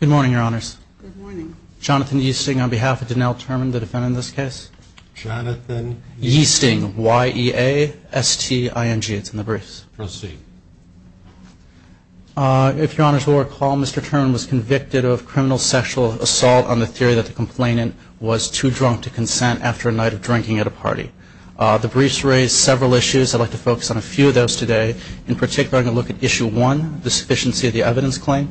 Good morning, Your Honors. Good morning. I'm Jonathan Yeasting on behalf of Donnell Turman, the defendant in this case. Jonathan Yeasting, Y-E-A-S-T-I-N-G. It's in the briefs. Proceed. If Your Honors will recall, Mr. Turman was convicted of criminal sexual assault on the theory that the complainant was too drunk to consent after a night of drinking at a party. The briefs raised several issues. I'd like to focus on a few of those today. In particular, I'm going to look at Issue 1, the sufficiency of the evidence claim.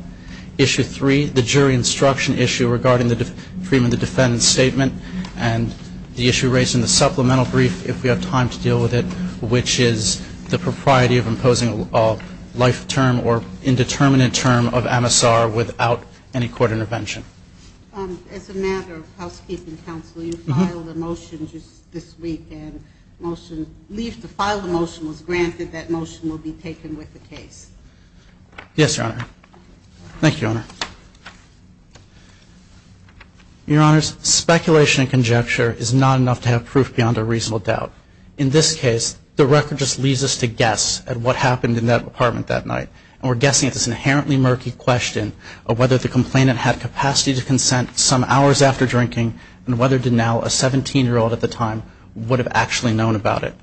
Issue 3, the jury instruction issue regarding the freedom of the defendant's statement. And the issue raised in the supplemental brief, if we have time to deal with it, which is the propriety of imposing a life term or indeterminate term of MSR without any court intervention. As a matter of housekeeping counsel, you filed a motion just this week, and leave to file the motion was granted that motion will be taken with the case. Yes, Your Honor. Thank you, Your Honor. Your Honors, speculation and conjecture is not enough to have proof beyond a reasonable doubt. In this case, the record just leaves us to guess at what happened in that apartment that night. And we're guessing at this inherently murky question of whether the complainant had capacity to consent some hours after drinking, and whether Denel, a 17-year-old at the time, would have actually known about it.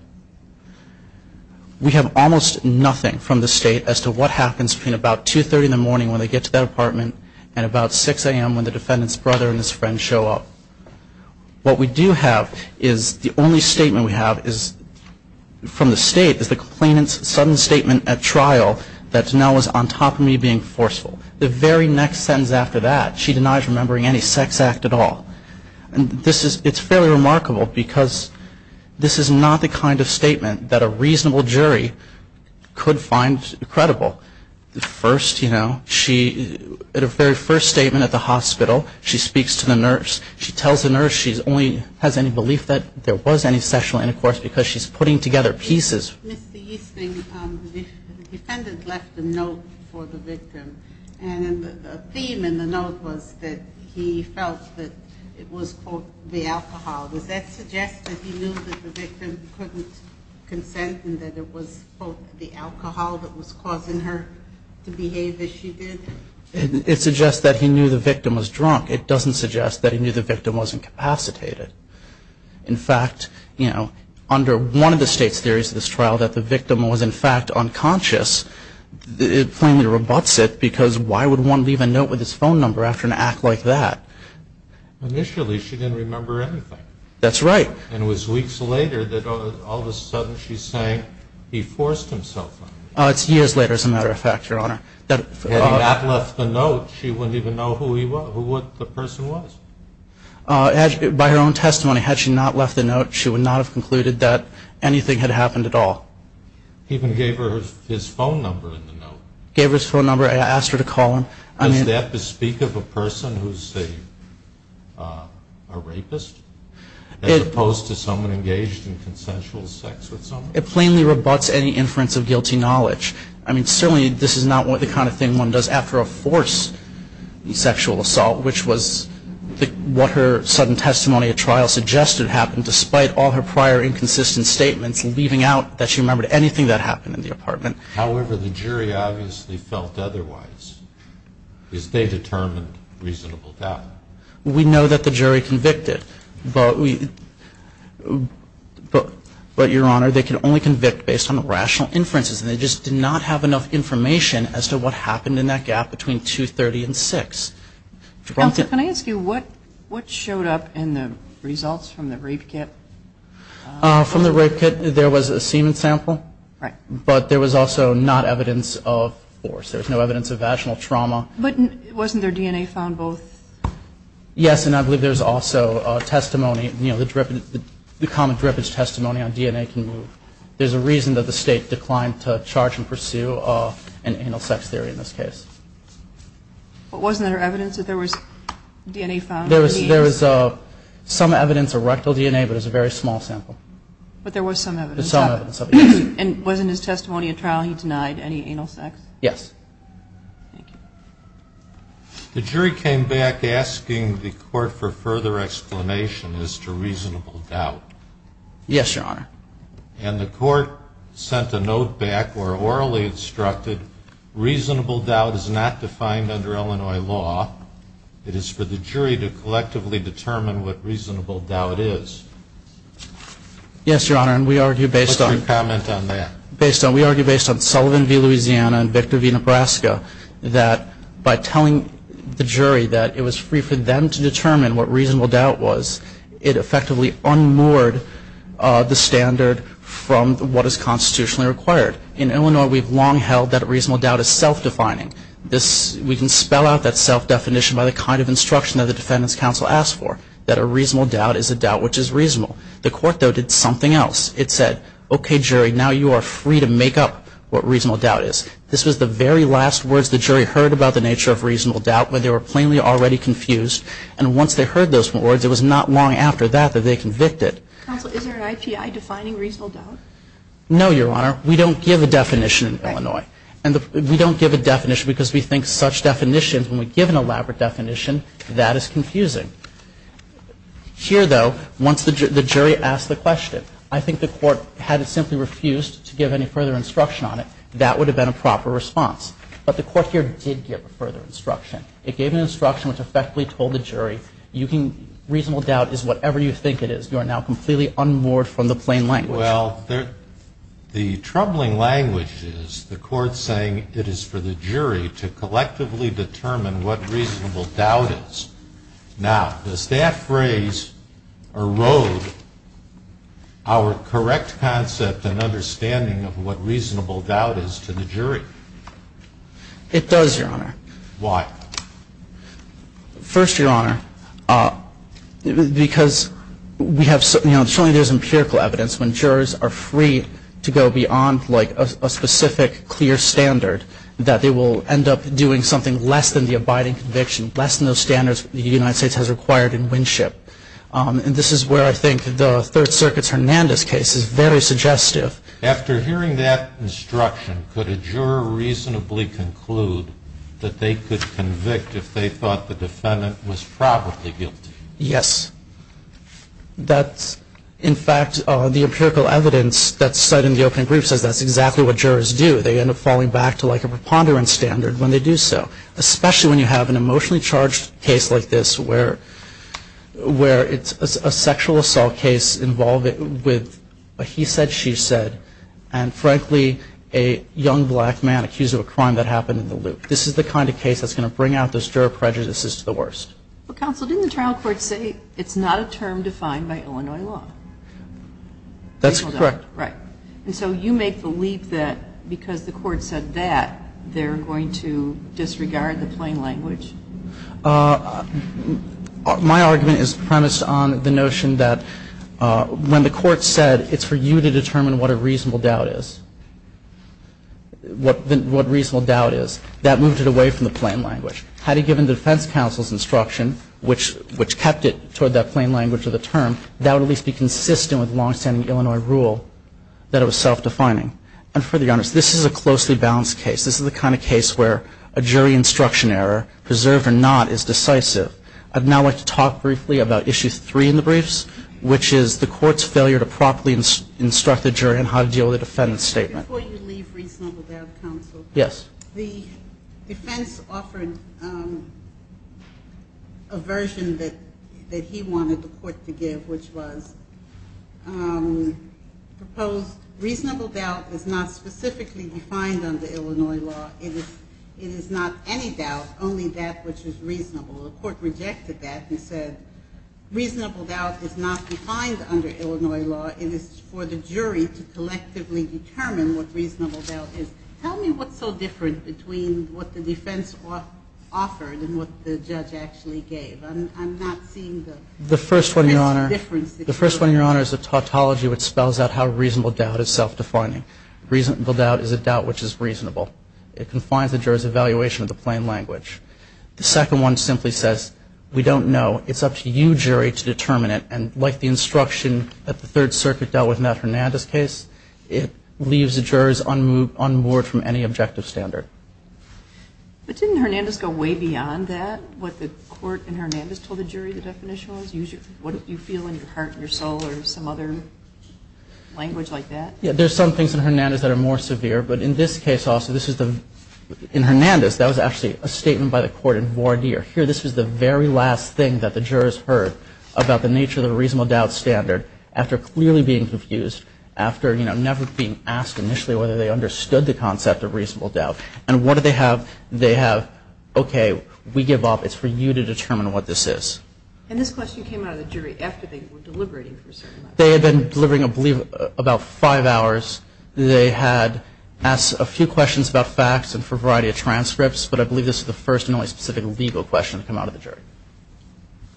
We have almost nothing from the State as to what happens between about 2.30 in the morning when they get to that apartment and about 6 a.m. when the defendant's brother and his friend show up. What we do have is the only statement we have from the State is the complainant's sudden statement at trial that Denel was on top of me being forceful. The very next sentence after that, she denies remembering any sex act at all. It's fairly remarkable because this is not the kind of statement that a reasonable jury could find credible. At a very first statement at the hospital, she speaks to the nurse. She tells the nurse she only has any belief that there was any sexual intercourse because she's putting together pieces. Mr. Easton, the defendant left a note for the victim. And the theme in the note was that he felt that it was, quote, the alcohol. Does that suggest that he knew that the victim couldn't consent and that it was, quote, the alcohol that was causing her to behave as she did? It suggests that he knew the victim was drunk. It doesn't suggest that he knew the victim wasn't capacitated. In fact, you know, under one of the State's theories of this trial, that the victim was, in fact, unconscious, it plainly rebutts it because why would one leave a note with his phone number after an act like that? Initially, she didn't remember anything. That's right. And it was weeks later that all of a sudden she's saying he forced himself on me. It's years later, as a matter of fact, Your Honor. Had he not left the note, she wouldn't even know who the person was. By her own testimony, had she not left the note, she would not have concluded that anything had happened at all. He even gave her his phone number in the note. Gave her his phone number and asked her to call him. Does that bespeak of a person who's a rapist as opposed to someone engaged in consensual sex with someone? It plainly rebutts any inference of guilty knowledge. I mean, certainly this is not the kind of thing one does after a forced sexual assault, which was what her sudden testimony at trial suggested happened, despite all her prior inconsistent statements leaving out that she remembered anything that happened in the apartment. However, the jury obviously felt otherwise. Because they determined reasonable doubt. We know that the jury convicted. But, Your Honor, they can only convict based on rational inferences, and they just did not have enough information as to what happened in that gap between 230 and 6. Can I ask you what showed up in the results from the rape kit? From the rape kit, there was a semen sample. Right. But there was also not evidence of force. There was no evidence of vaginal trauma. But wasn't there DNA found both? Yes, and I believe there's also testimony, you know, the common drippage testimony on DNA can move. There's a reason that the State declined to charge and pursue an anal sex theory in this case. But wasn't there evidence that there was DNA found? There was some evidence of rectal DNA, but it was a very small sample. But there was some evidence of it. There was some evidence of it, yes. And wasn't his testimony at trial he denied any anal sex? Yes. Thank you. The jury came back asking the court for further explanation as to reasonable doubt. Yes, Your Honor. And the court sent a note back where orally instructed, reasonable doubt is not defined under Illinois law. It is for the jury to collectively determine what reasonable doubt is. Yes, Your Honor, and we argue based on that. What's your comment on that? We argue based on Sullivan v. Louisiana and Victor v. Nebraska, that by telling the jury that it was free for them to determine what reasonable doubt was, it effectively unmoored the standard from what is constitutionally required. In Illinois, we've long held that reasonable doubt is self-defining. We can spell out that self-definition by the kind of instruction that the Defendant's Counsel asked for, that a reasonable doubt is a doubt which is reasonable. The court, though, did something else. It said, okay, jury, now you are free to make up what reasonable doubt is. This was the very last words the jury heard about the nature of reasonable doubt when they were plainly already confused. And once they heard those words, it was not long after that that they convicted. Counsel, is there an IPI defining reasonable doubt? No, Your Honor. We don't give a definition in Illinois. And we don't give a definition because we think such definitions, when we give an elaborate definition, that is confusing. Here, though, once the jury asked the question, I think the court, had it simply refused to give any further instruction on it, that would have been a proper response. But the court here did give further instruction. It gave an instruction which effectively told the jury, reasonable doubt is whatever you think it is. You are now completely unmoored from the plain language. Well, the troubling language is the court saying it is for the jury to collectively determine what reasonable doubt is. Now, does that phrase erode our correct concept and understanding of what reasonable doubt is to the jury? It does, Your Honor. Why? First, Your Honor, because we have certainly there is empirical evidence when jurors are free to go beyond like a specific clear standard, that they will end up doing something less than the abiding conviction, less than those standards the United States has required in Winship. And this is where I think the Third Circuit's Hernandez case is very suggestive. After hearing that instruction, could a juror reasonably conclude that they could convict if they thought the defendant was probably guilty? Yes. In fact, the empirical evidence that's cited in the opening brief says that's exactly what jurors do. They end up falling back to like a preponderance standard when they do so, especially when you have an emotionally charged case like this where it's a sexual assault case involving a he said, she said, and frankly a young black man accused of a crime that happened in the loop. This is the kind of case that's going to bring out those juror prejudices to the worst. Counsel, didn't the trial court say it's not a term defined by Illinois law? That's correct. Right. And so you make the leap that because the court said that, they're going to disregard the plain language? My argument is premised on the notion that when the court said it's for you to determine what a reasonable doubt is, what reasonable doubt is, that moved it away from the plain language. Had it given the defense counsel's instruction, which kept it toward that plain language of the term, that would at least be consistent with longstanding Illinois rule that it was self-defining. And for the honors, this is a closely balanced case. This is the kind of case where a jury instruction error, preserved or not, is decisive. I'd now like to talk briefly about issue three in the briefs, which is the court's failure to properly instruct the jury on how to deal with a defendant's statement. Before you leave reasonable doubt counsel. Yes. The defense offered a version that he wanted the court to give, which was proposed reasonable doubt is not specifically defined under Illinois law. It is not any doubt, only that which is reasonable. The court rejected that and said reasonable doubt is not defined under Illinois law. It is for the jury to collectively determine what reasonable doubt is. Tell me what's so different between what the defense offered and what the judge actually gave. The first one, Your Honor, is a tautology which spells out how reasonable doubt is self-defining. Reasonable doubt is a doubt which is reasonable. It confines the jury's evaluation of the plain language. The second one simply says, we don't know. It's up to you, jury, to determine it. And like the instruction that the Third Circuit dealt with in that Hernandez case, it leaves the jurors unmoored from any objective standard. But didn't Hernandez go way beyond that? What the court in Hernandez told the jury the definition was? What do you feel in your heart and your soul or some other language like that? Yeah, there's some things in Hernandez that are more severe. But in this case also, this is the – in Hernandez, that was actually a statement by the court in voir dire. Here, this was the very last thing that the jurors heard about the nature of the reasonable doubt standard after clearly being confused, after, you know, never being asked initially whether they understood the concept of reasonable doubt. And what do they have? They have, okay, we give up. It's for you to determine what this is. And this question came out of the jury after they were deliberating for a certain amount of time. They had been deliberating, I believe, about five hours. They had asked a few questions about facts and for a variety of transcripts. But I believe this was the first and only specific legal question to come out of the jury.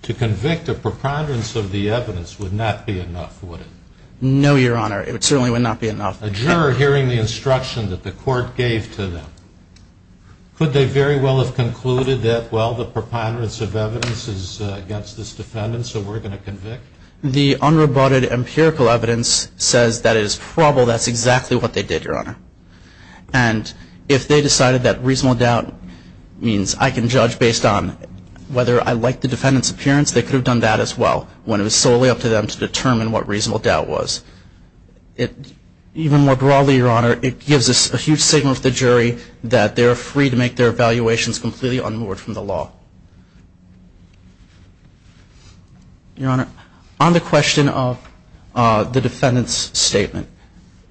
To convict a preponderance of the evidence would not be enough, would it? No, Your Honor. It certainly would not be enough. A juror hearing the instruction that the court gave to them, could they very well have concluded that, well, the preponderance of evidence is against this defendant, so we're going to convict? The unrebutted empirical evidence says that it is probable that's exactly what they did, Your Honor. And if they decided that reasonable doubt means I can judge based on whether I like the defendant's appearance, they could have done that as well when it was solely up to them to determine what reasonable doubt was. Even more broadly, Your Honor, it gives us a huge signal to the jury that they're free to make their evaluations completely unmoored from the law. Your Honor, on the question of the defendant's statement,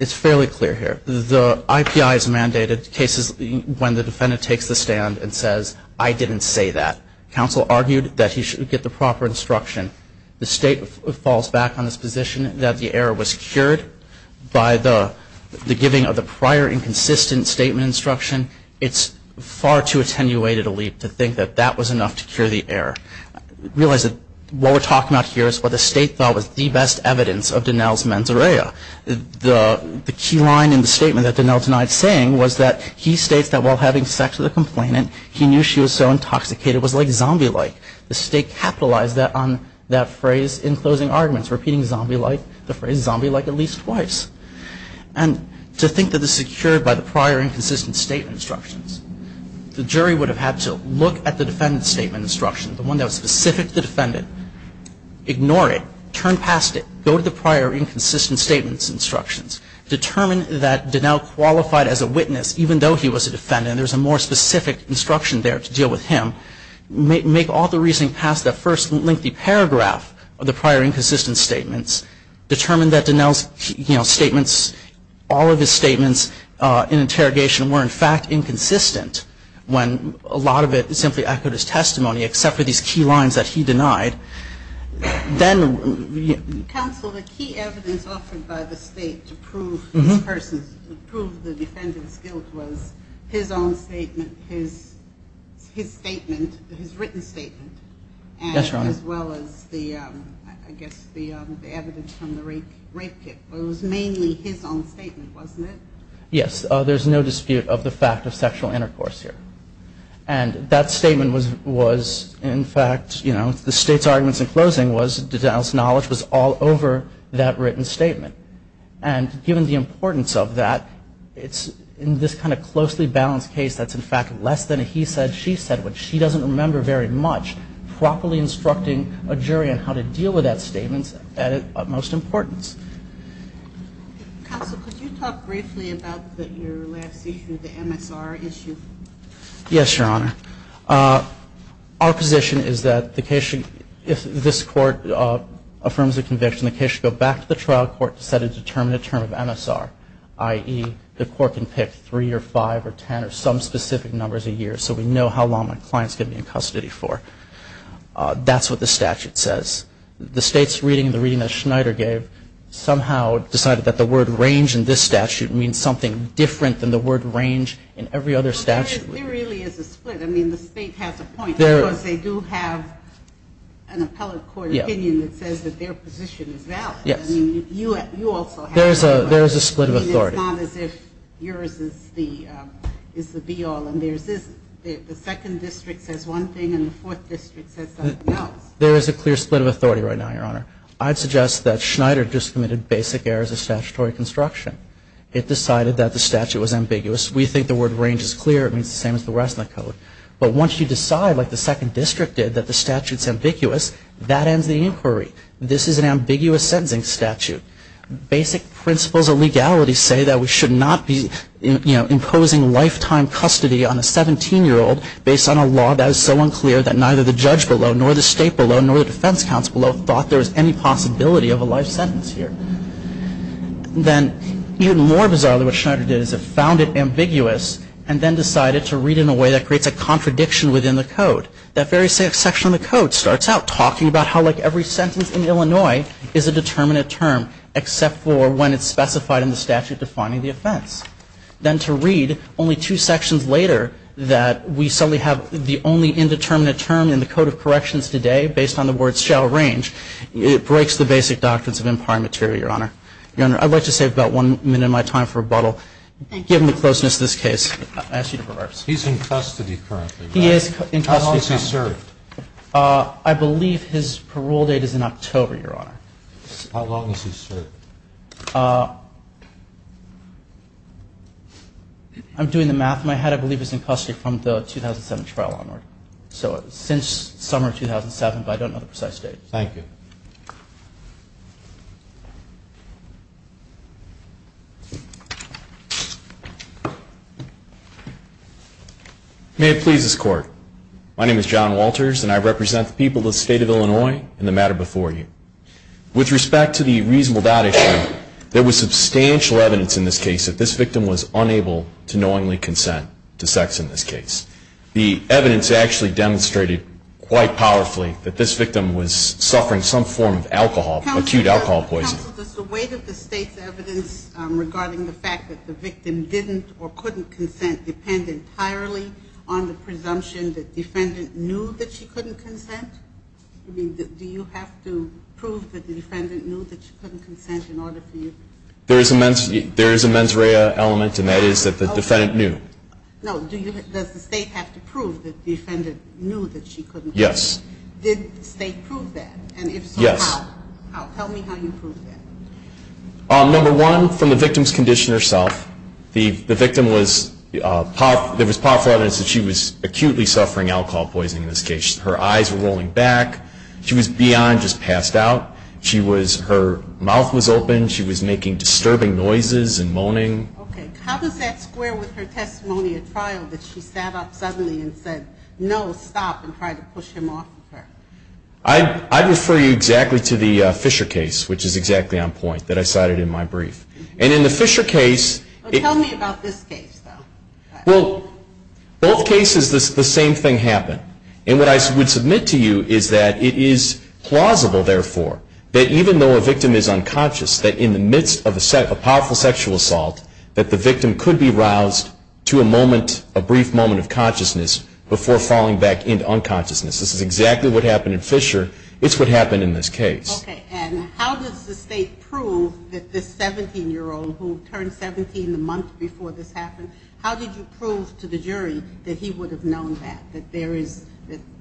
it's fairly clear here. The IPI has mandated cases when the defendant takes the stand and says, I didn't say that. Counsel argued that he should get the proper instruction. The State falls back on this position that the error was cured by the giving of the prior inconsistent statement instruction. It's far too attenuated a leap to think that that was enough to cure the error. Realize that what we're talking about here is what the State thought was the best evidence of Donnell's mens rea. The key line in the statement that Donnell denied saying was that he states that while having sex with a complainant, he knew she was so intoxicated it was like zombie-like. The State capitalized on that phrase in closing arguments, repeating the phrase zombie-like at least twice. And to think that this is cured by the prior inconsistent statement instructions, the jury would have had to look at the defendant's statement instructions, the one that was specific to the defendant, ignore it, turn past it, go to the prior inconsistent statement instructions, determine that Donnell qualified as a witness even though he was a defendant and there's a more specific instruction there to deal with him, make all the reasoning past that first lengthy paragraph of the prior inconsistent statements, determine that Donnell's statements, all of his statements in interrogation were in fact inconsistent when a lot of it simply echoed his testimony except for these key lines that he denied. Then... Counsel, the key evidence offered by the State to prove this person's, to prove the defendant's guilt was his own statement, his statement, his written statement... Yes, Your Honor. ...as well as the, I guess, the evidence from the rape kit. But it was mainly his own statement, wasn't it? Yes, there's no dispute of the fact of sexual intercourse here. And that statement was in fact, you know, the State's arguments in closing was Donnell's knowledge was all over that written statement. And given the importance of that, it's in this kind of closely balanced case that's in fact less than a he said, she said, which she doesn't remember very much properly instructing a jury on how to deal with that statement at its utmost importance. Counsel, could you talk briefly about your last issue, the MSR issue? Yes, Your Honor. Our position is that the case should, if this court affirms a conviction, the case should go back to the trial court to set a determinate term of MSR, i.e., the court can pick three or five or ten or some specific numbers a year so we know how long my client's going to be in custody for. That's what the statute says. The State's reading, the reading that Schneider gave, somehow decided that the word range in this statute means something different than the word range in every other statute. There really is a split. I mean, the State has a point because they do have an appellate court opinion that says that their position is valid. Yes. I mean, you also have a point. There is a split of authority. I mean, it's not as if yours is the be-all and there's this, the second district says one thing and the fourth district says something else. There is a clear split of authority right now, Your Honor. I'd suggest that Schneider just committed basic errors of statutory construction. It decided that the statute was ambiguous. We think the word range is clear. It means the same as the rest of the code. But once you decide, like the second district did, that the statute's ambiguous, that ends the inquiry. This is an ambiguous sentencing statute. Basic principles of legality say that we should not be, you know, imposing lifetime custody on a 17-year-old based on a law that is so unclear that neither the judge below, nor the state below, nor the defense counsel below thought there was any possibility of a life sentence here. Then even more bizarre than what Schneider did is it found it ambiguous and then decided to read it in a way that creates a contradiction within the code. That very same section of the code starts out talking about how, like, every sentence in Illinois is a determinate term, except for when it's specified in the statute defining the offense. Then to read only two sections later that we suddenly have the only indeterminate term in the code of corrections today based on the word shall range, it breaks the basic doctrines of empire material, Your Honor. Your Honor, I'd like to save about one minute of my time for rebuttal. Given the closeness of this case, I ask you to reverse. He's in custody currently. He is in custody. How long has he served? How long has he served? I'm doing the math. My head, I believe, is in custody from the 2007 trial onward. So since summer of 2007, but I don't know the precise date. Thank you. May it please this Court, my name is John Walters, and I represent the people of the state of Illinois in the matter before you. With respect to the reasonable doubt issue, there was substantial evidence in this case that this victim was unable to knowingly consent to sex in this case. The evidence actually demonstrated quite powerfully that this victim was suffering some form of alcohol, acute alcohol poisoning. Counsel, does the weight of the state's evidence regarding the fact that the victim didn't or couldn't consent depend entirely on the presumption that defendant knew that she couldn't consent? I mean, do you have to prove that the defendant knew that she couldn't consent in order for you? There is a mens rea element, and that is that the defendant knew. No, does the state have to prove that the defendant knew that she couldn't consent? Yes. Did the state prove that? Yes. And if so, how? Tell me how you proved that. Number one, from the victim's condition herself. The victim was, there was powerful evidence that she was acutely suffering alcohol poisoning in this case. Her eyes were rolling back. She was beyond just passed out. She was, her mouth was open. She was making disturbing noises and moaning. Okay. How does that square with her testimony at trial that she sat up suddenly and said, no, stop, and tried to push him off of her? I refer you exactly to the Fisher case, which is exactly on point, that I cited in my brief. And in the Fisher case. Tell me about this case, though. Well, both cases the same thing happened. And what I would submit to you is that it is plausible, therefore, that even though a victim is unconscious, that in the midst of a powerful sexual assault, that the victim could be roused to a moment, a brief moment of consciousness before falling back into unconsciousness. This is exactly what happened in Fisher. It's what happened in this case. Okay. And how does the state prove that this 17-year-old who turned 17 the month before this happened, how did you prove to the jury that he would have known that, that there is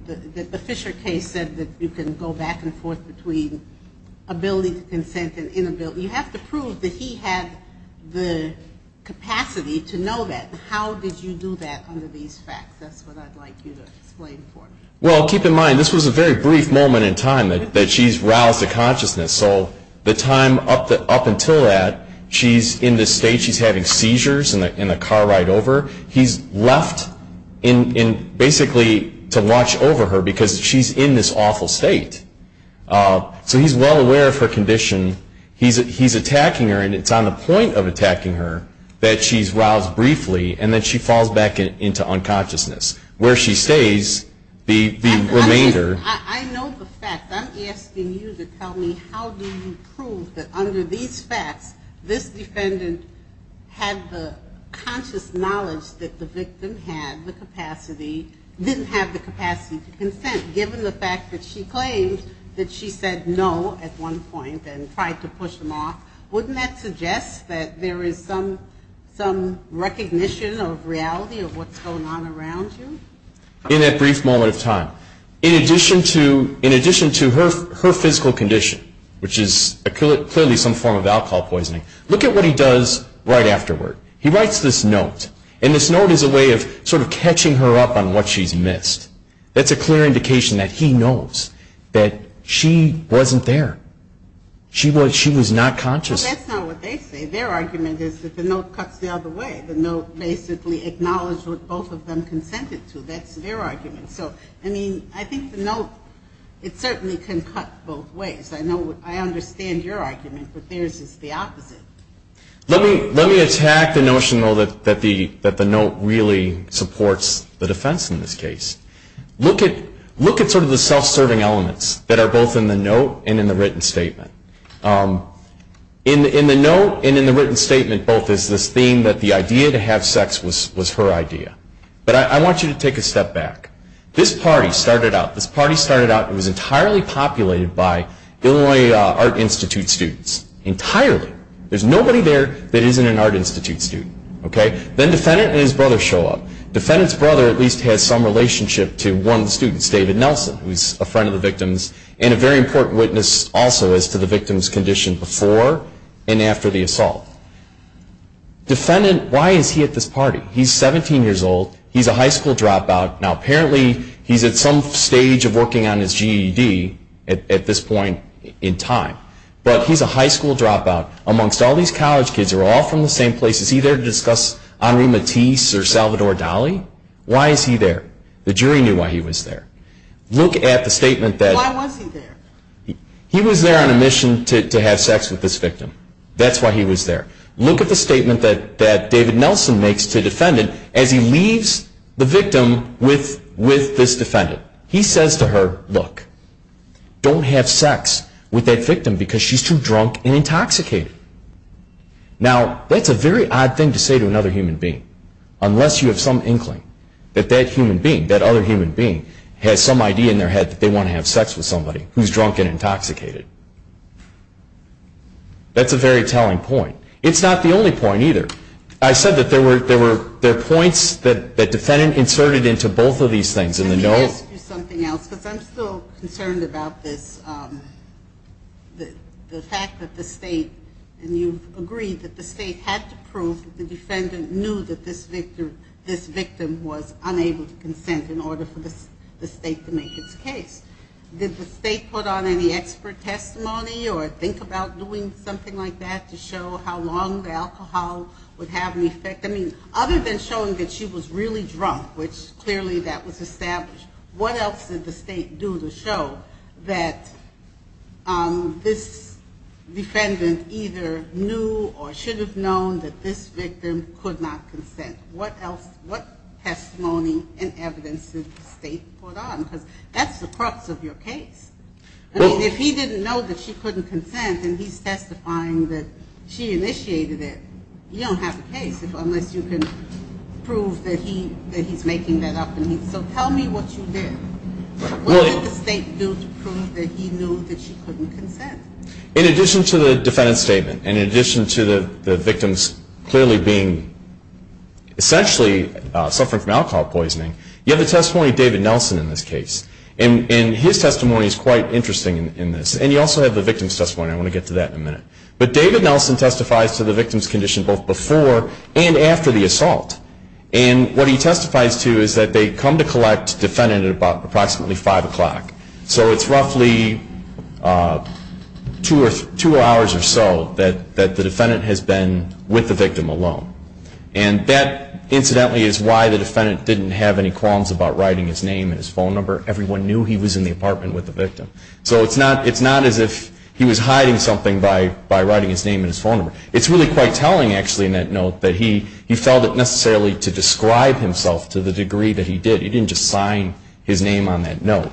the Fisher case said that you can go back and forth between ability to consent and inability. You have to prove that he had the capacity to know that. How did you do that under these facts? That's what I'd like you to explain for me. Well, keep in mind, this was a very brief moment in time that she's roused to consciousness. So the time up until that, she's in this state. She's having seizures in the car ride over. He's left basically to watch over her because she's in this awful state. So he's well aware of her condition. He's attacking her, and it's on the point of attacking her that she's roused briefly and that she falls back into unconsciousness. Where she stays, the remainder. I know the facts. I'm asking you to tell me how do you prove that under these facts, this defendant had the conscious knowledge that the victim had the capacity, didn't have the capacity to consent given the fact that she claimed that she said no at one point and tried to push him off. Wouldn't that suggest that there is some recognition of reality of what's going on around you? In that brief moment of time. In addition to her physical condition, which is clearly some form of alcohol poisoning, look at what he does right afterward. He writes this note. And this note is a way of sort of catching her up on what she's missed. That's a clear indication that he knows that she wasn't there. She was not conscious. Well, that's not what they say. Their argument is that the note cuts the other way. The note basically acknowledged what both of them consented to. That's their argument. So, I mean, I think the note, it certainly can cut both ways. I understand your argument, but theirs is the opposite. Let me attack the notion, though, that the note really supports the defense in this case. Look at sort of the self-serving elements that are both in the note and in the written statement. In the note and in the written statement both is this theme that the idea to have sex was her idea. But I want you to take a step back. This party started out, this party started out and was entirely populated by Illinois Art Institute students, entirely. There's nobody there that isn't an Art Institute student. Then Defendant and his brother show up. Defendant's brother at least has some relationship to one of the students, David Nelson, who's a friend of the victim's and a very important witness also as to the victim's condition before and after the assault. Defendant, why is he at this party? He's 17 years old. He's a high school dropout. Now apparently he's at some stage of working on his GED at this point in time. But he's a high school dropout. Amongst all these college kids, they're all from the same place. Is he there to discuss Henri Matisse or Salvador Dali? Why is he there? The jury knew why he was there. Look at the statement that he was there on a mission to have sex with this victim. That's why he was there. Look at the statement that David Nelson makes to Defendant as he leaves the room with this Defendant. He says to her, look, don't have sex with that victim because she's too drunk and intoxicated. Now, that's a very odd thing to say to another human being unless you have some inkling that that human being, that other human being, has some idea in their head that they want to have sex with somebody who's drunk and intoxicated. That's a very telling point. It's not the only point either. I said that there were points that the Defendant inserted into both of these things. Can I ask you something else? Because I'm still concerned about this, the fact that the State, and you've agreed that the State had to prove that the Defendant knew that this victim was unable to consent in order for the State to make its case. Did the State put on any expert testimony or think about doing something like that to show how long the alcohol would have an effect? I mean, other than showing that she was really drunk, which clearly that was established, what else did the State do to show that this Defendant either knew or should have known that this victim could not consent? What testimony and evidence did the State put on? Because that's the crux of your case. I mean, if he didn't know that she couldn't consent and he's testifying that she initiated it, you don't have a case unless you can prove that he's making that up. So tell me what you did. What did the State do to prove that he knew that she couldn't consent? In addition to the Defendant's statement, and in addition to the victim's clearly being essentially suffering from alcohol poisoning, you have the testimony of David Nelson in this case. And his testimony is quite interesting in this. And you also have the victim's testimony. I want to get to that in a minute. But David Nelson testifies to the victim's condition both before and after the assault. And what he testifies to is that they come to collect the Defendant at approximately 5 o'clock. So it's roughly two hours or so that the Defendant has been with the victim alone. And that, incidentally, is why the Defendant didn't have any qualms about writing his name and his phone number. Everyone knew he was in the apartment with the victim. So it's not as if he was hiding something by writing his name and his phone number. It's really quite telling, actually, in that note, that he felt it necessarily to describe himself to the degree that he did. He didn't just sign his name on that note.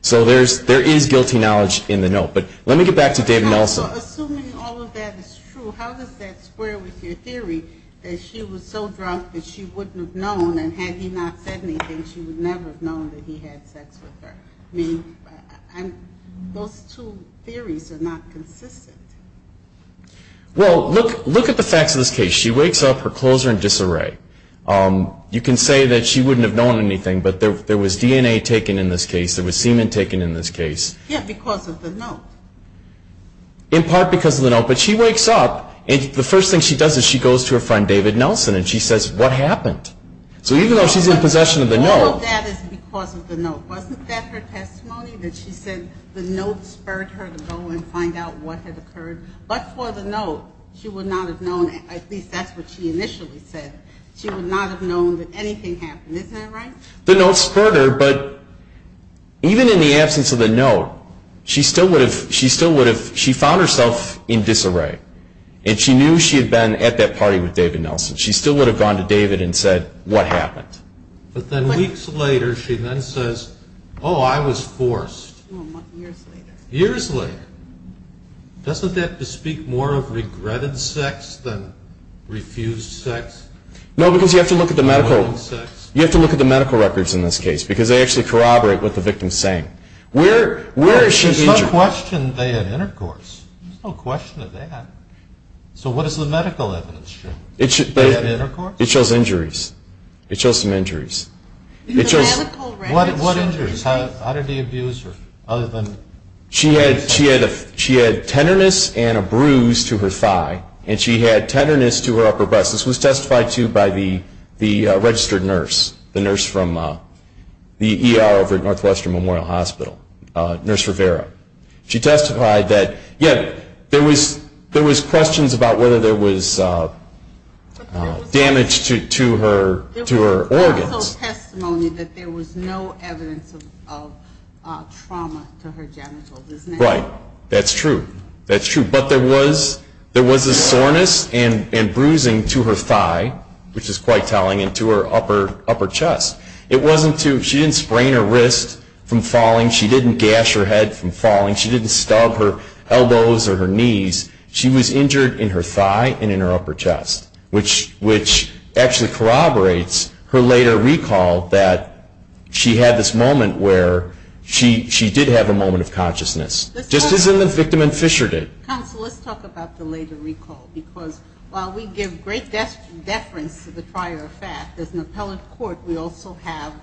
So there is guilty knowledge in the note. But let me get back to David Nelson. So assuming all of that is true, how does that square with your theory that she was so drunk that she wouldn't have known, and had he not said anything, she would never have known that he had sex with her? I mean, those two theories are not consistent. Well, look at the facts of this case. She wakes up, her clothes are in disarray. You can say that she wouldn't have known anything, but there was DNA taken in this case, there was semen taken in this case. Yeah, because of the note. In part because of the note. But she wakes up, and the first thing she does is she goes to her friend David Nelson and she says, what happened? So even though she's in possession of the note. All of that is because of the note. Wasn't that her testimony that she said the note spurred her to go and find out what had occurred? But for the note, she would not have known, at least that's what she initially said, she would not have known that anything happened. Isn't that right? The note spurred her, but even in the absence of the note, she still would have found herself in disarray. And she knew she had been at that party with David Nelson. She still would have gone to David and said, what happened? But then weeks later she then says, oh, I was forced. Years later. Years later. Doesn't that bespeak more of regretted sex than refused sex? No, because you have to look at the medical records in this case, because they actually corroborate what the victim is saying. There's no question they had intercourse. There's no question of that. So what does the medical evidence show? They had intercourse? It shows injuries. It shows some injuries. What injuries? How did they abuse her? She had tenderness and a bruise to her thigh, and she had tenderness to her upper breast. This was testified to by the registered nurse, the nurse from the ER over at Northwestern Memorial Hospital, Nurse Rivera. She testified that, yes, there was questions about whether there was damage to her organs. There was also testimony that there was no evidence of trauma to her genitals. Right. That's true. That's true. But there was a soreness and bruising to her thigh, which is quite telling, and to her upper chest. She didn't sprain her wrist from falling. She didn't gash her head from falling. She didn't stub her elbows or her knees. She was injured in her thigh and in her upper chest, which actually corroborates her later recall that she had this moment where she did have a moment of consciousness, just as the victim and Fisher did. Counsel, let's talk about the later recall, because while we give great deference to the prior fact, as an appellate court, we also have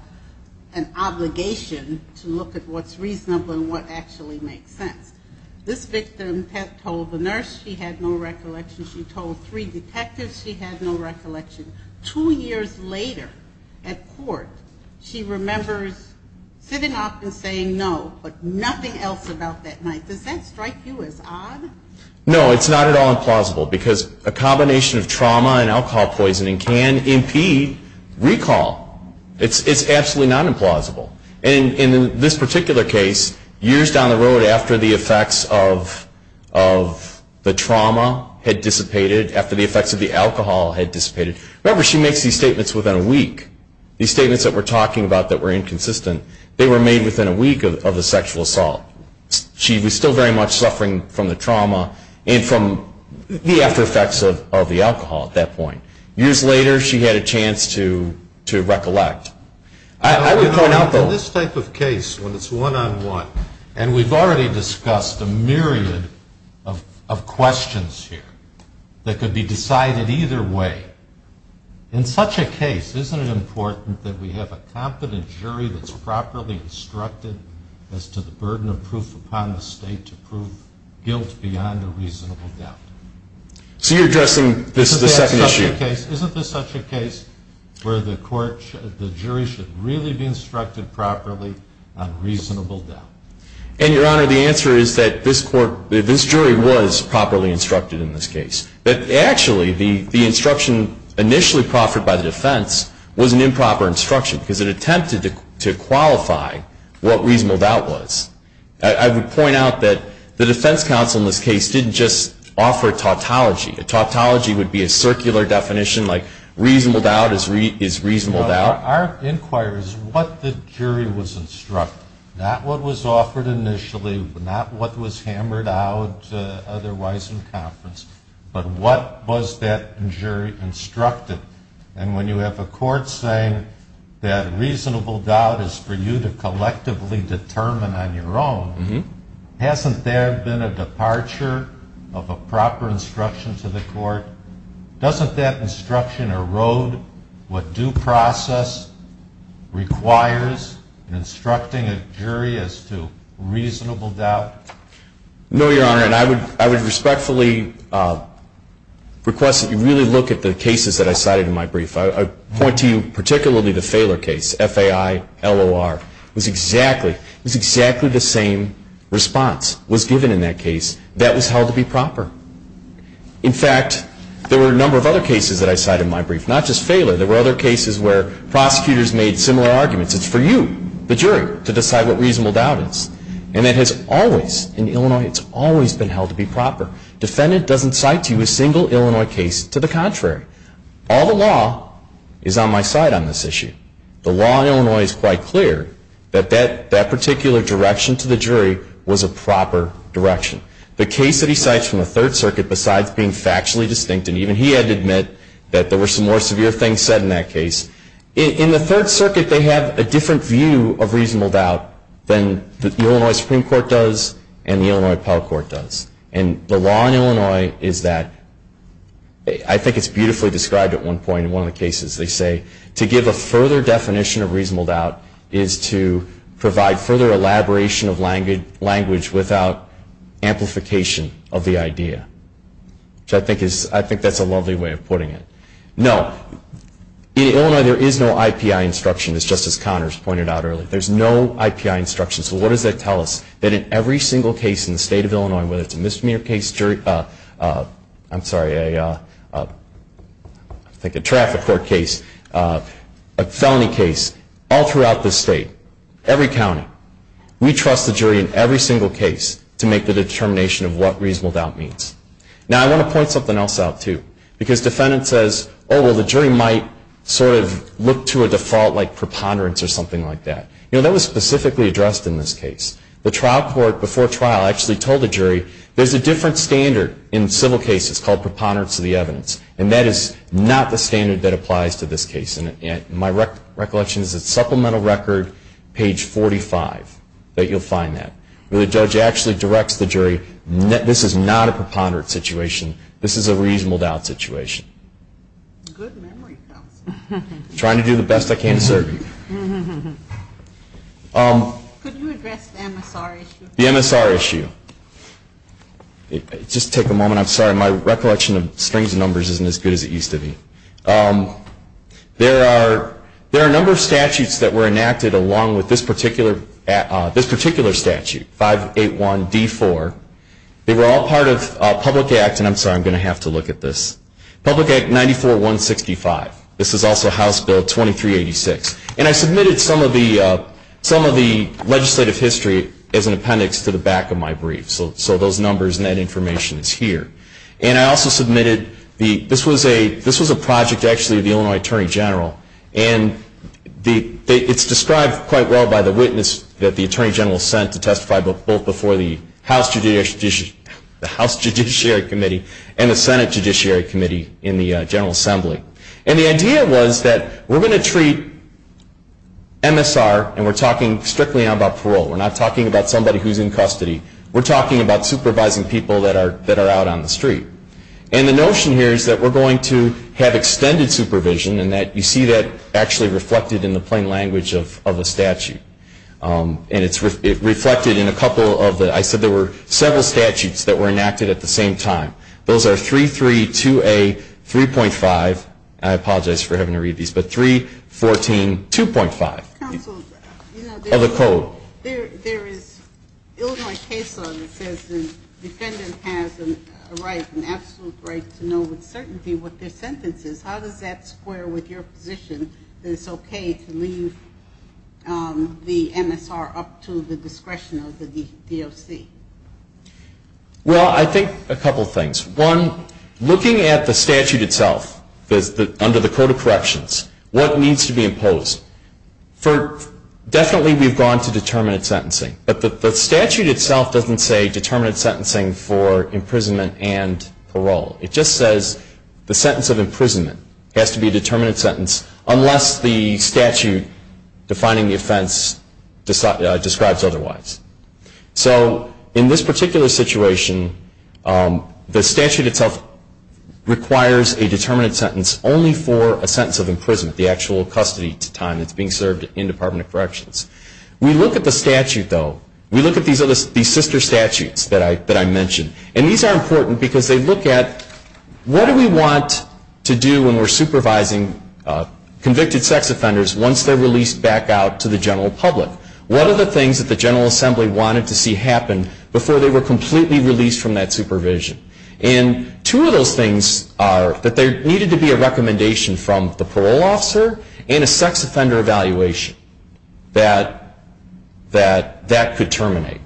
an obligation to look at what's reasonable and what actually makes sense. This victim told the nurse she had no recollection. She told three detectives she had no recollection. Two years later at court, she remembers sitting up and saying no, but nothing else about that night. Does that strike you as odd? No, it's not at all implausible, because a combination of trauma and alcohol poisoning can impede recall. It's absolutely not implausible. And in this particular case, years down the road after the effects of the trauma had dissipated, after the effects of the alcohol had dissipated, remember she makes these statements within a week. These statements that we're talking about that were inconsistent, they were made within a week of the sexual assault. She was still very much suffering from the trauma and from the after effects of the alcohol at that point. Years later, she had a chance to recollect. In this type of case, when it's one-on-one, and we've already discussed a myriad of questions here that could be decided either way, in such a case, isn't it important that we have a competent jury that's properly instructed as to the burden of proof upon the state to prove guilt beyond a reasonable doubt? So you're addressing the second issue? Isn't this such a case where the jury should really be instructed properly on reasonable doubt? And, Your Honor, the answer is that this jury was properly instructed in this case. But actually, the instruction initially proffered by the defense was an improper instruction, because it attempted to qualify what reasonable doubt was. I would point out that the defense counsel in this case didn't just offer tautology. Tautology would be a circular definition like reasonable doubt is reasonable doubt. Our inquiry is what the jury was instructed, not what was offered initially, not what was hammered out otherwise in conference, but what was that jury instructed. And when you have a court saying that reasonable doubt is for you to collectively determine on your own, hasn't there been a departure of a proper instruction to the court? Doesn't that instruction erode what due process requires in instructing a jury as to reasonable doubt? No, Your Honor, and I would respectfully request that you really look at the cases that I cited in my brief. I point to you particularly the Phaler case, F-A-I-L-O-R. It was exactly the same response was given in that case that was held to be proper. In fact, there were a number of other cases that I cited in my brief, not just Phaler. There were other cases where prosecutors made similar arguments. It's for you, the jury, to decide what reasonable doubt is. And it has always, in Illinois, it's always been held to be proper. Defendant doesn't cite to you a single Illinois case to the contrary. All the law is on my side on this issue. The law in Illinois is quite clear that that particular direction to the jury was a proper direction. The case that he cites from the Third Circuit, besides being factually distinct, and even he had to admit that there were some more severe things said in that case, in the Third Circuit they have a different view of reasonable doubt than the Illinois Supreme Court does and the Illinois Appellate Court does. And the law in Illinois is that, I think it's beautifully described at one point, in one of the cases they say, to give a further definition of reasonable doubt is to provide further elaboration of language without amplification of the idea. I think that's a lovely way of putting it. No, in Illinois there is no IPI instruction, as Justice Connors pointed out earlier. There's no IPI instruction. So what does that tell us? That in every single case in the state of Illinois, whether it's a misdemeanor case, a traffic court case, a felony case, all throughout the state, every county, we trust the jury in every single case to make the determination of what reasonable doubt means. Now I want to point something else out too. Because defendants says, oh well the jury might sort of look to a default like preponderance or something like that. That was specifically addressed in this case. The trial court, before trial, actually told the jury, there's a different standard in civil cases called preponderance of the evidence. And that is not the standard that applies to this case. And my recollection is it's supplemental record, page 45, that you'll find that. The judge actually directs the jury, this is not a preponderance situation. This is a reasonable doubt situation. Good memory. Trying to do the best I can to serve you. Could you address the MSR issue? The MSR issue. Just take a moment. I'm sorry, my recollection of strings of numbers isn't as good as it used to be. There are a number of statutes that were enacted along with this particular statute, 581D4. They were all part of Public Act, and I'm sorry, I'm going to have to look at this. Public Act 94-165, this is also House Bill 2386. And I submitted some of the legislative history as an appendix to the back of my brief. So those numbers and that information is here. And I also submitted, this was a project actually of the Illinois Attorney General. And it's described quite well by the witness that the Attorney General sent to testify both before the House Judiciary Committee and the Senate Judiciary Committee in the General Assembly. And the idea was that we're going to treat MSR and we're talking strictly about parole. We're not talking about somebody who's in custody. We're talking about supervising people that are out on the street. And the notion here is that we're going to have extended supervision and that you see that actually reflected in the plain language of the statute. And it's reflected in a couple of the, I said there were several statutes that were enacted at the same time. Those are 332A 3.5, I apologize for having to read these, but 314 2.5 of the code. There is Illinois case law that says the defendant has a right, an absolute right to know with certainty what their sentence is. How does that square with your position that it's okay to leave the MSR up to the discretion of the DOC? Well, I think a couple of things. One, looking at the statute itself under the Code of Corrections, what needs to be imposed? Definitely we've gone to determinate sentencing, but the statute itself doesn't say determinate sentencing for imprisonment and parole. It just says the sentence of imprisonment has to be a determinate sentence unless the statute defining the offense describes otherwise. So in this particular situation, the statute itself requires a determinate sentence only for a sentence of imprisonment, the actual custody time that's being served in Department of Corrections. We look at the statute, though. We look at these sister statutes that I mentioned, and these are important because they look at what do we want to do when we're supervising convicted sex offenders once they're released back out to the general public? What are the things that the General Assembly wanted to see happen before they were completely released from that supervision? And two of those things are that there needed to be a recommendation from the parole officer and a sex offender evaluation that that could terminate.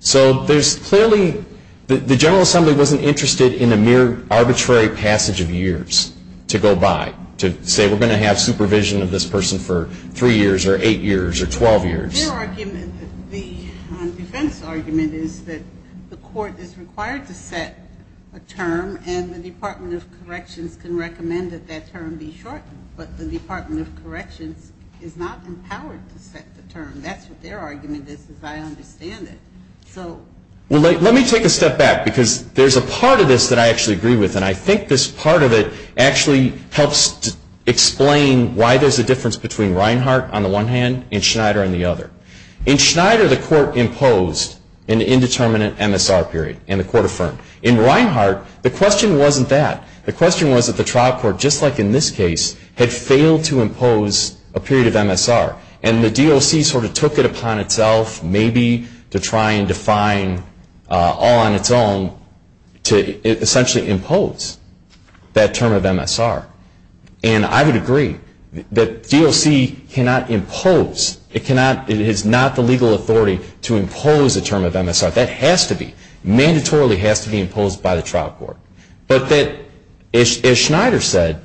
So there's clearly, the General Assembly wasn't interested in a mere arbitrary passage of years to go by, to say we're going to have supervision of this person for 3 years or 8 years or 12 years. The defense argument is that the court is required to set a term and the Department of Corrections can recommend that that term be shortened, but the Department of Corrections is not empowered to set the term. That's what their argument is, as I understand it. Let me take a step back because there's a part of this that I actually agree with, and I think this part of it actually helps explain why there's a difference between Reinhart on the one hand and Schneider on the other. In Schneider, the court imposed an indeterminate MSR period and the court affirmed. In Reinhart, the question wasn't that. The question was that the trial court, just like in this case, had failed to impose a period of MSR and the DOC sort of took it upon itself maybe to try and define all on its own to essentially impose that term of MSR. And I would agree that DOC cannot impose, it is not the legal authority to impose a term of MSR. That has to be, mandatorily has to be imposed by the trial court. But that, as Schneider said,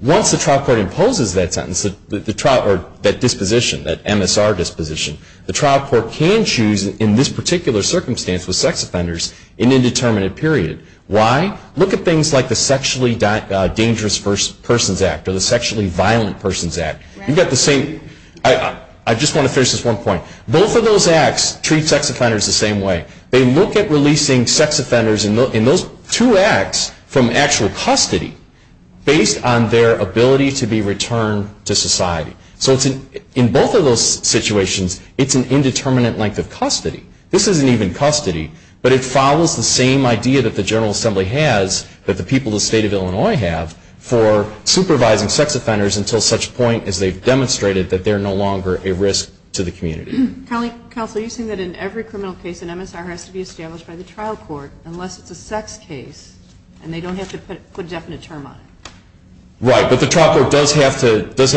once the trial court imposes that sentence, or that disposition, that MSR disposition, the trial court can choose, in this particular circumstance with sex offenders, an indeterminate period. Why? Look at things like the Sexually Dangerous Persons Act or the Sexually Violent Persons Act. You've got the same, I just want to finish this one point. Both of those acts treat sex offenders the same way. They look at releasing sex offenders in those two acts from actual custody based on their ability to be returned to society. So in both of those situations, it's an indeterminate length of custody. This isn't even custody, but it follows the same idea that the General Assembly has, that the people of the state of Illinois have, for supervising sex offenders until such point as they've demonstrated that they're no longer a risk to the community. Colleague Counsel, you're saying that in every criminal case, an MSR has to be established by the trial court, unless it's a sex case, and they don't have to put a definite term on it. Right, but the trial court does have to put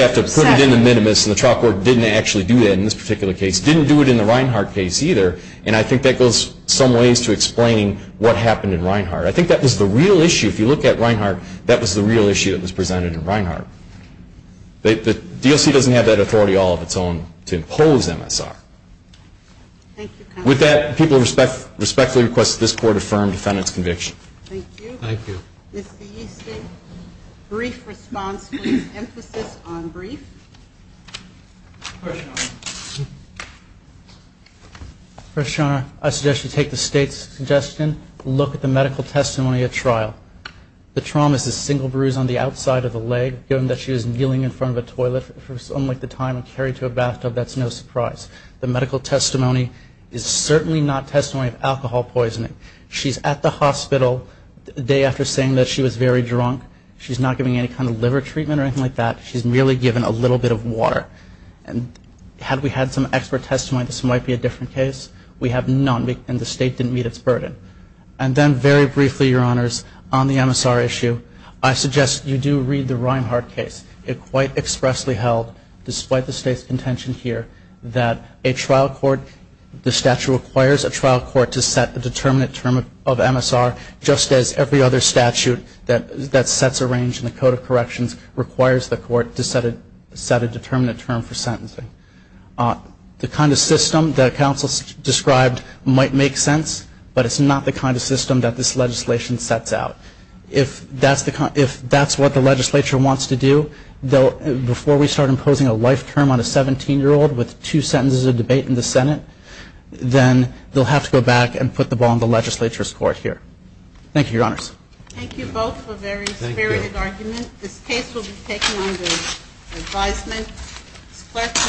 it in the minimus, and the trial court didn't actually do that in this particular case. Didn't do it in the Reinhart case either, and I think that goes some ways to explaining what happened in Reinhart. I think that was the real issue. If you look at Reinhart, that was the real issue that was presented in Reinhart. The DOC doesn't have that authority all of its own to impose MSR. With that, people respectfully request that this Court affirm defendant's conviction. Thank you. Thank you. Mr. Easton, brief response, please. Emphasis on brief. First Your Honor, I suggest you take the State's suggestion, look at the medical testimony at trial. The trauma is a single bruise on the outside of the leg. Given that she was kneeling in front of a toilet for something like the time, and carried to a bathtub, that's no surprise. The medical testimony is certainly not testimony of alcohol poisoning. She's at the hospital the day after saying that she was very drunk. She's not giving any kind of liver treatment or anything like that. She's merely given a little bit of water. And had we had some expert testimony, this might be a different case. We have none, and the State didn't meet its burden. And then very briefly, Your Honors, on the MSR issue, I suggest you do read the Reinhart case. It quite expressly held, despite the State's contention here, that a trial court, the statute requires a trial court to set a determinate term of MSR, just as every other statute that sets a range in the Code of Corrections requires the court to set a determinate term for sentencing. The kind of system that counsel described might make sense, but it's not the kind of system that this legislation sets out. If that's what the legislature wants to do, before we start imposing a life term on a 17-year-old with two sentences of debate in the Senate, then they'll have to go back and put the ball in the legislature's court here. Thank you, Your Honors. Thank you both for a very spirited argument. This case will be taken under advisement. Questions?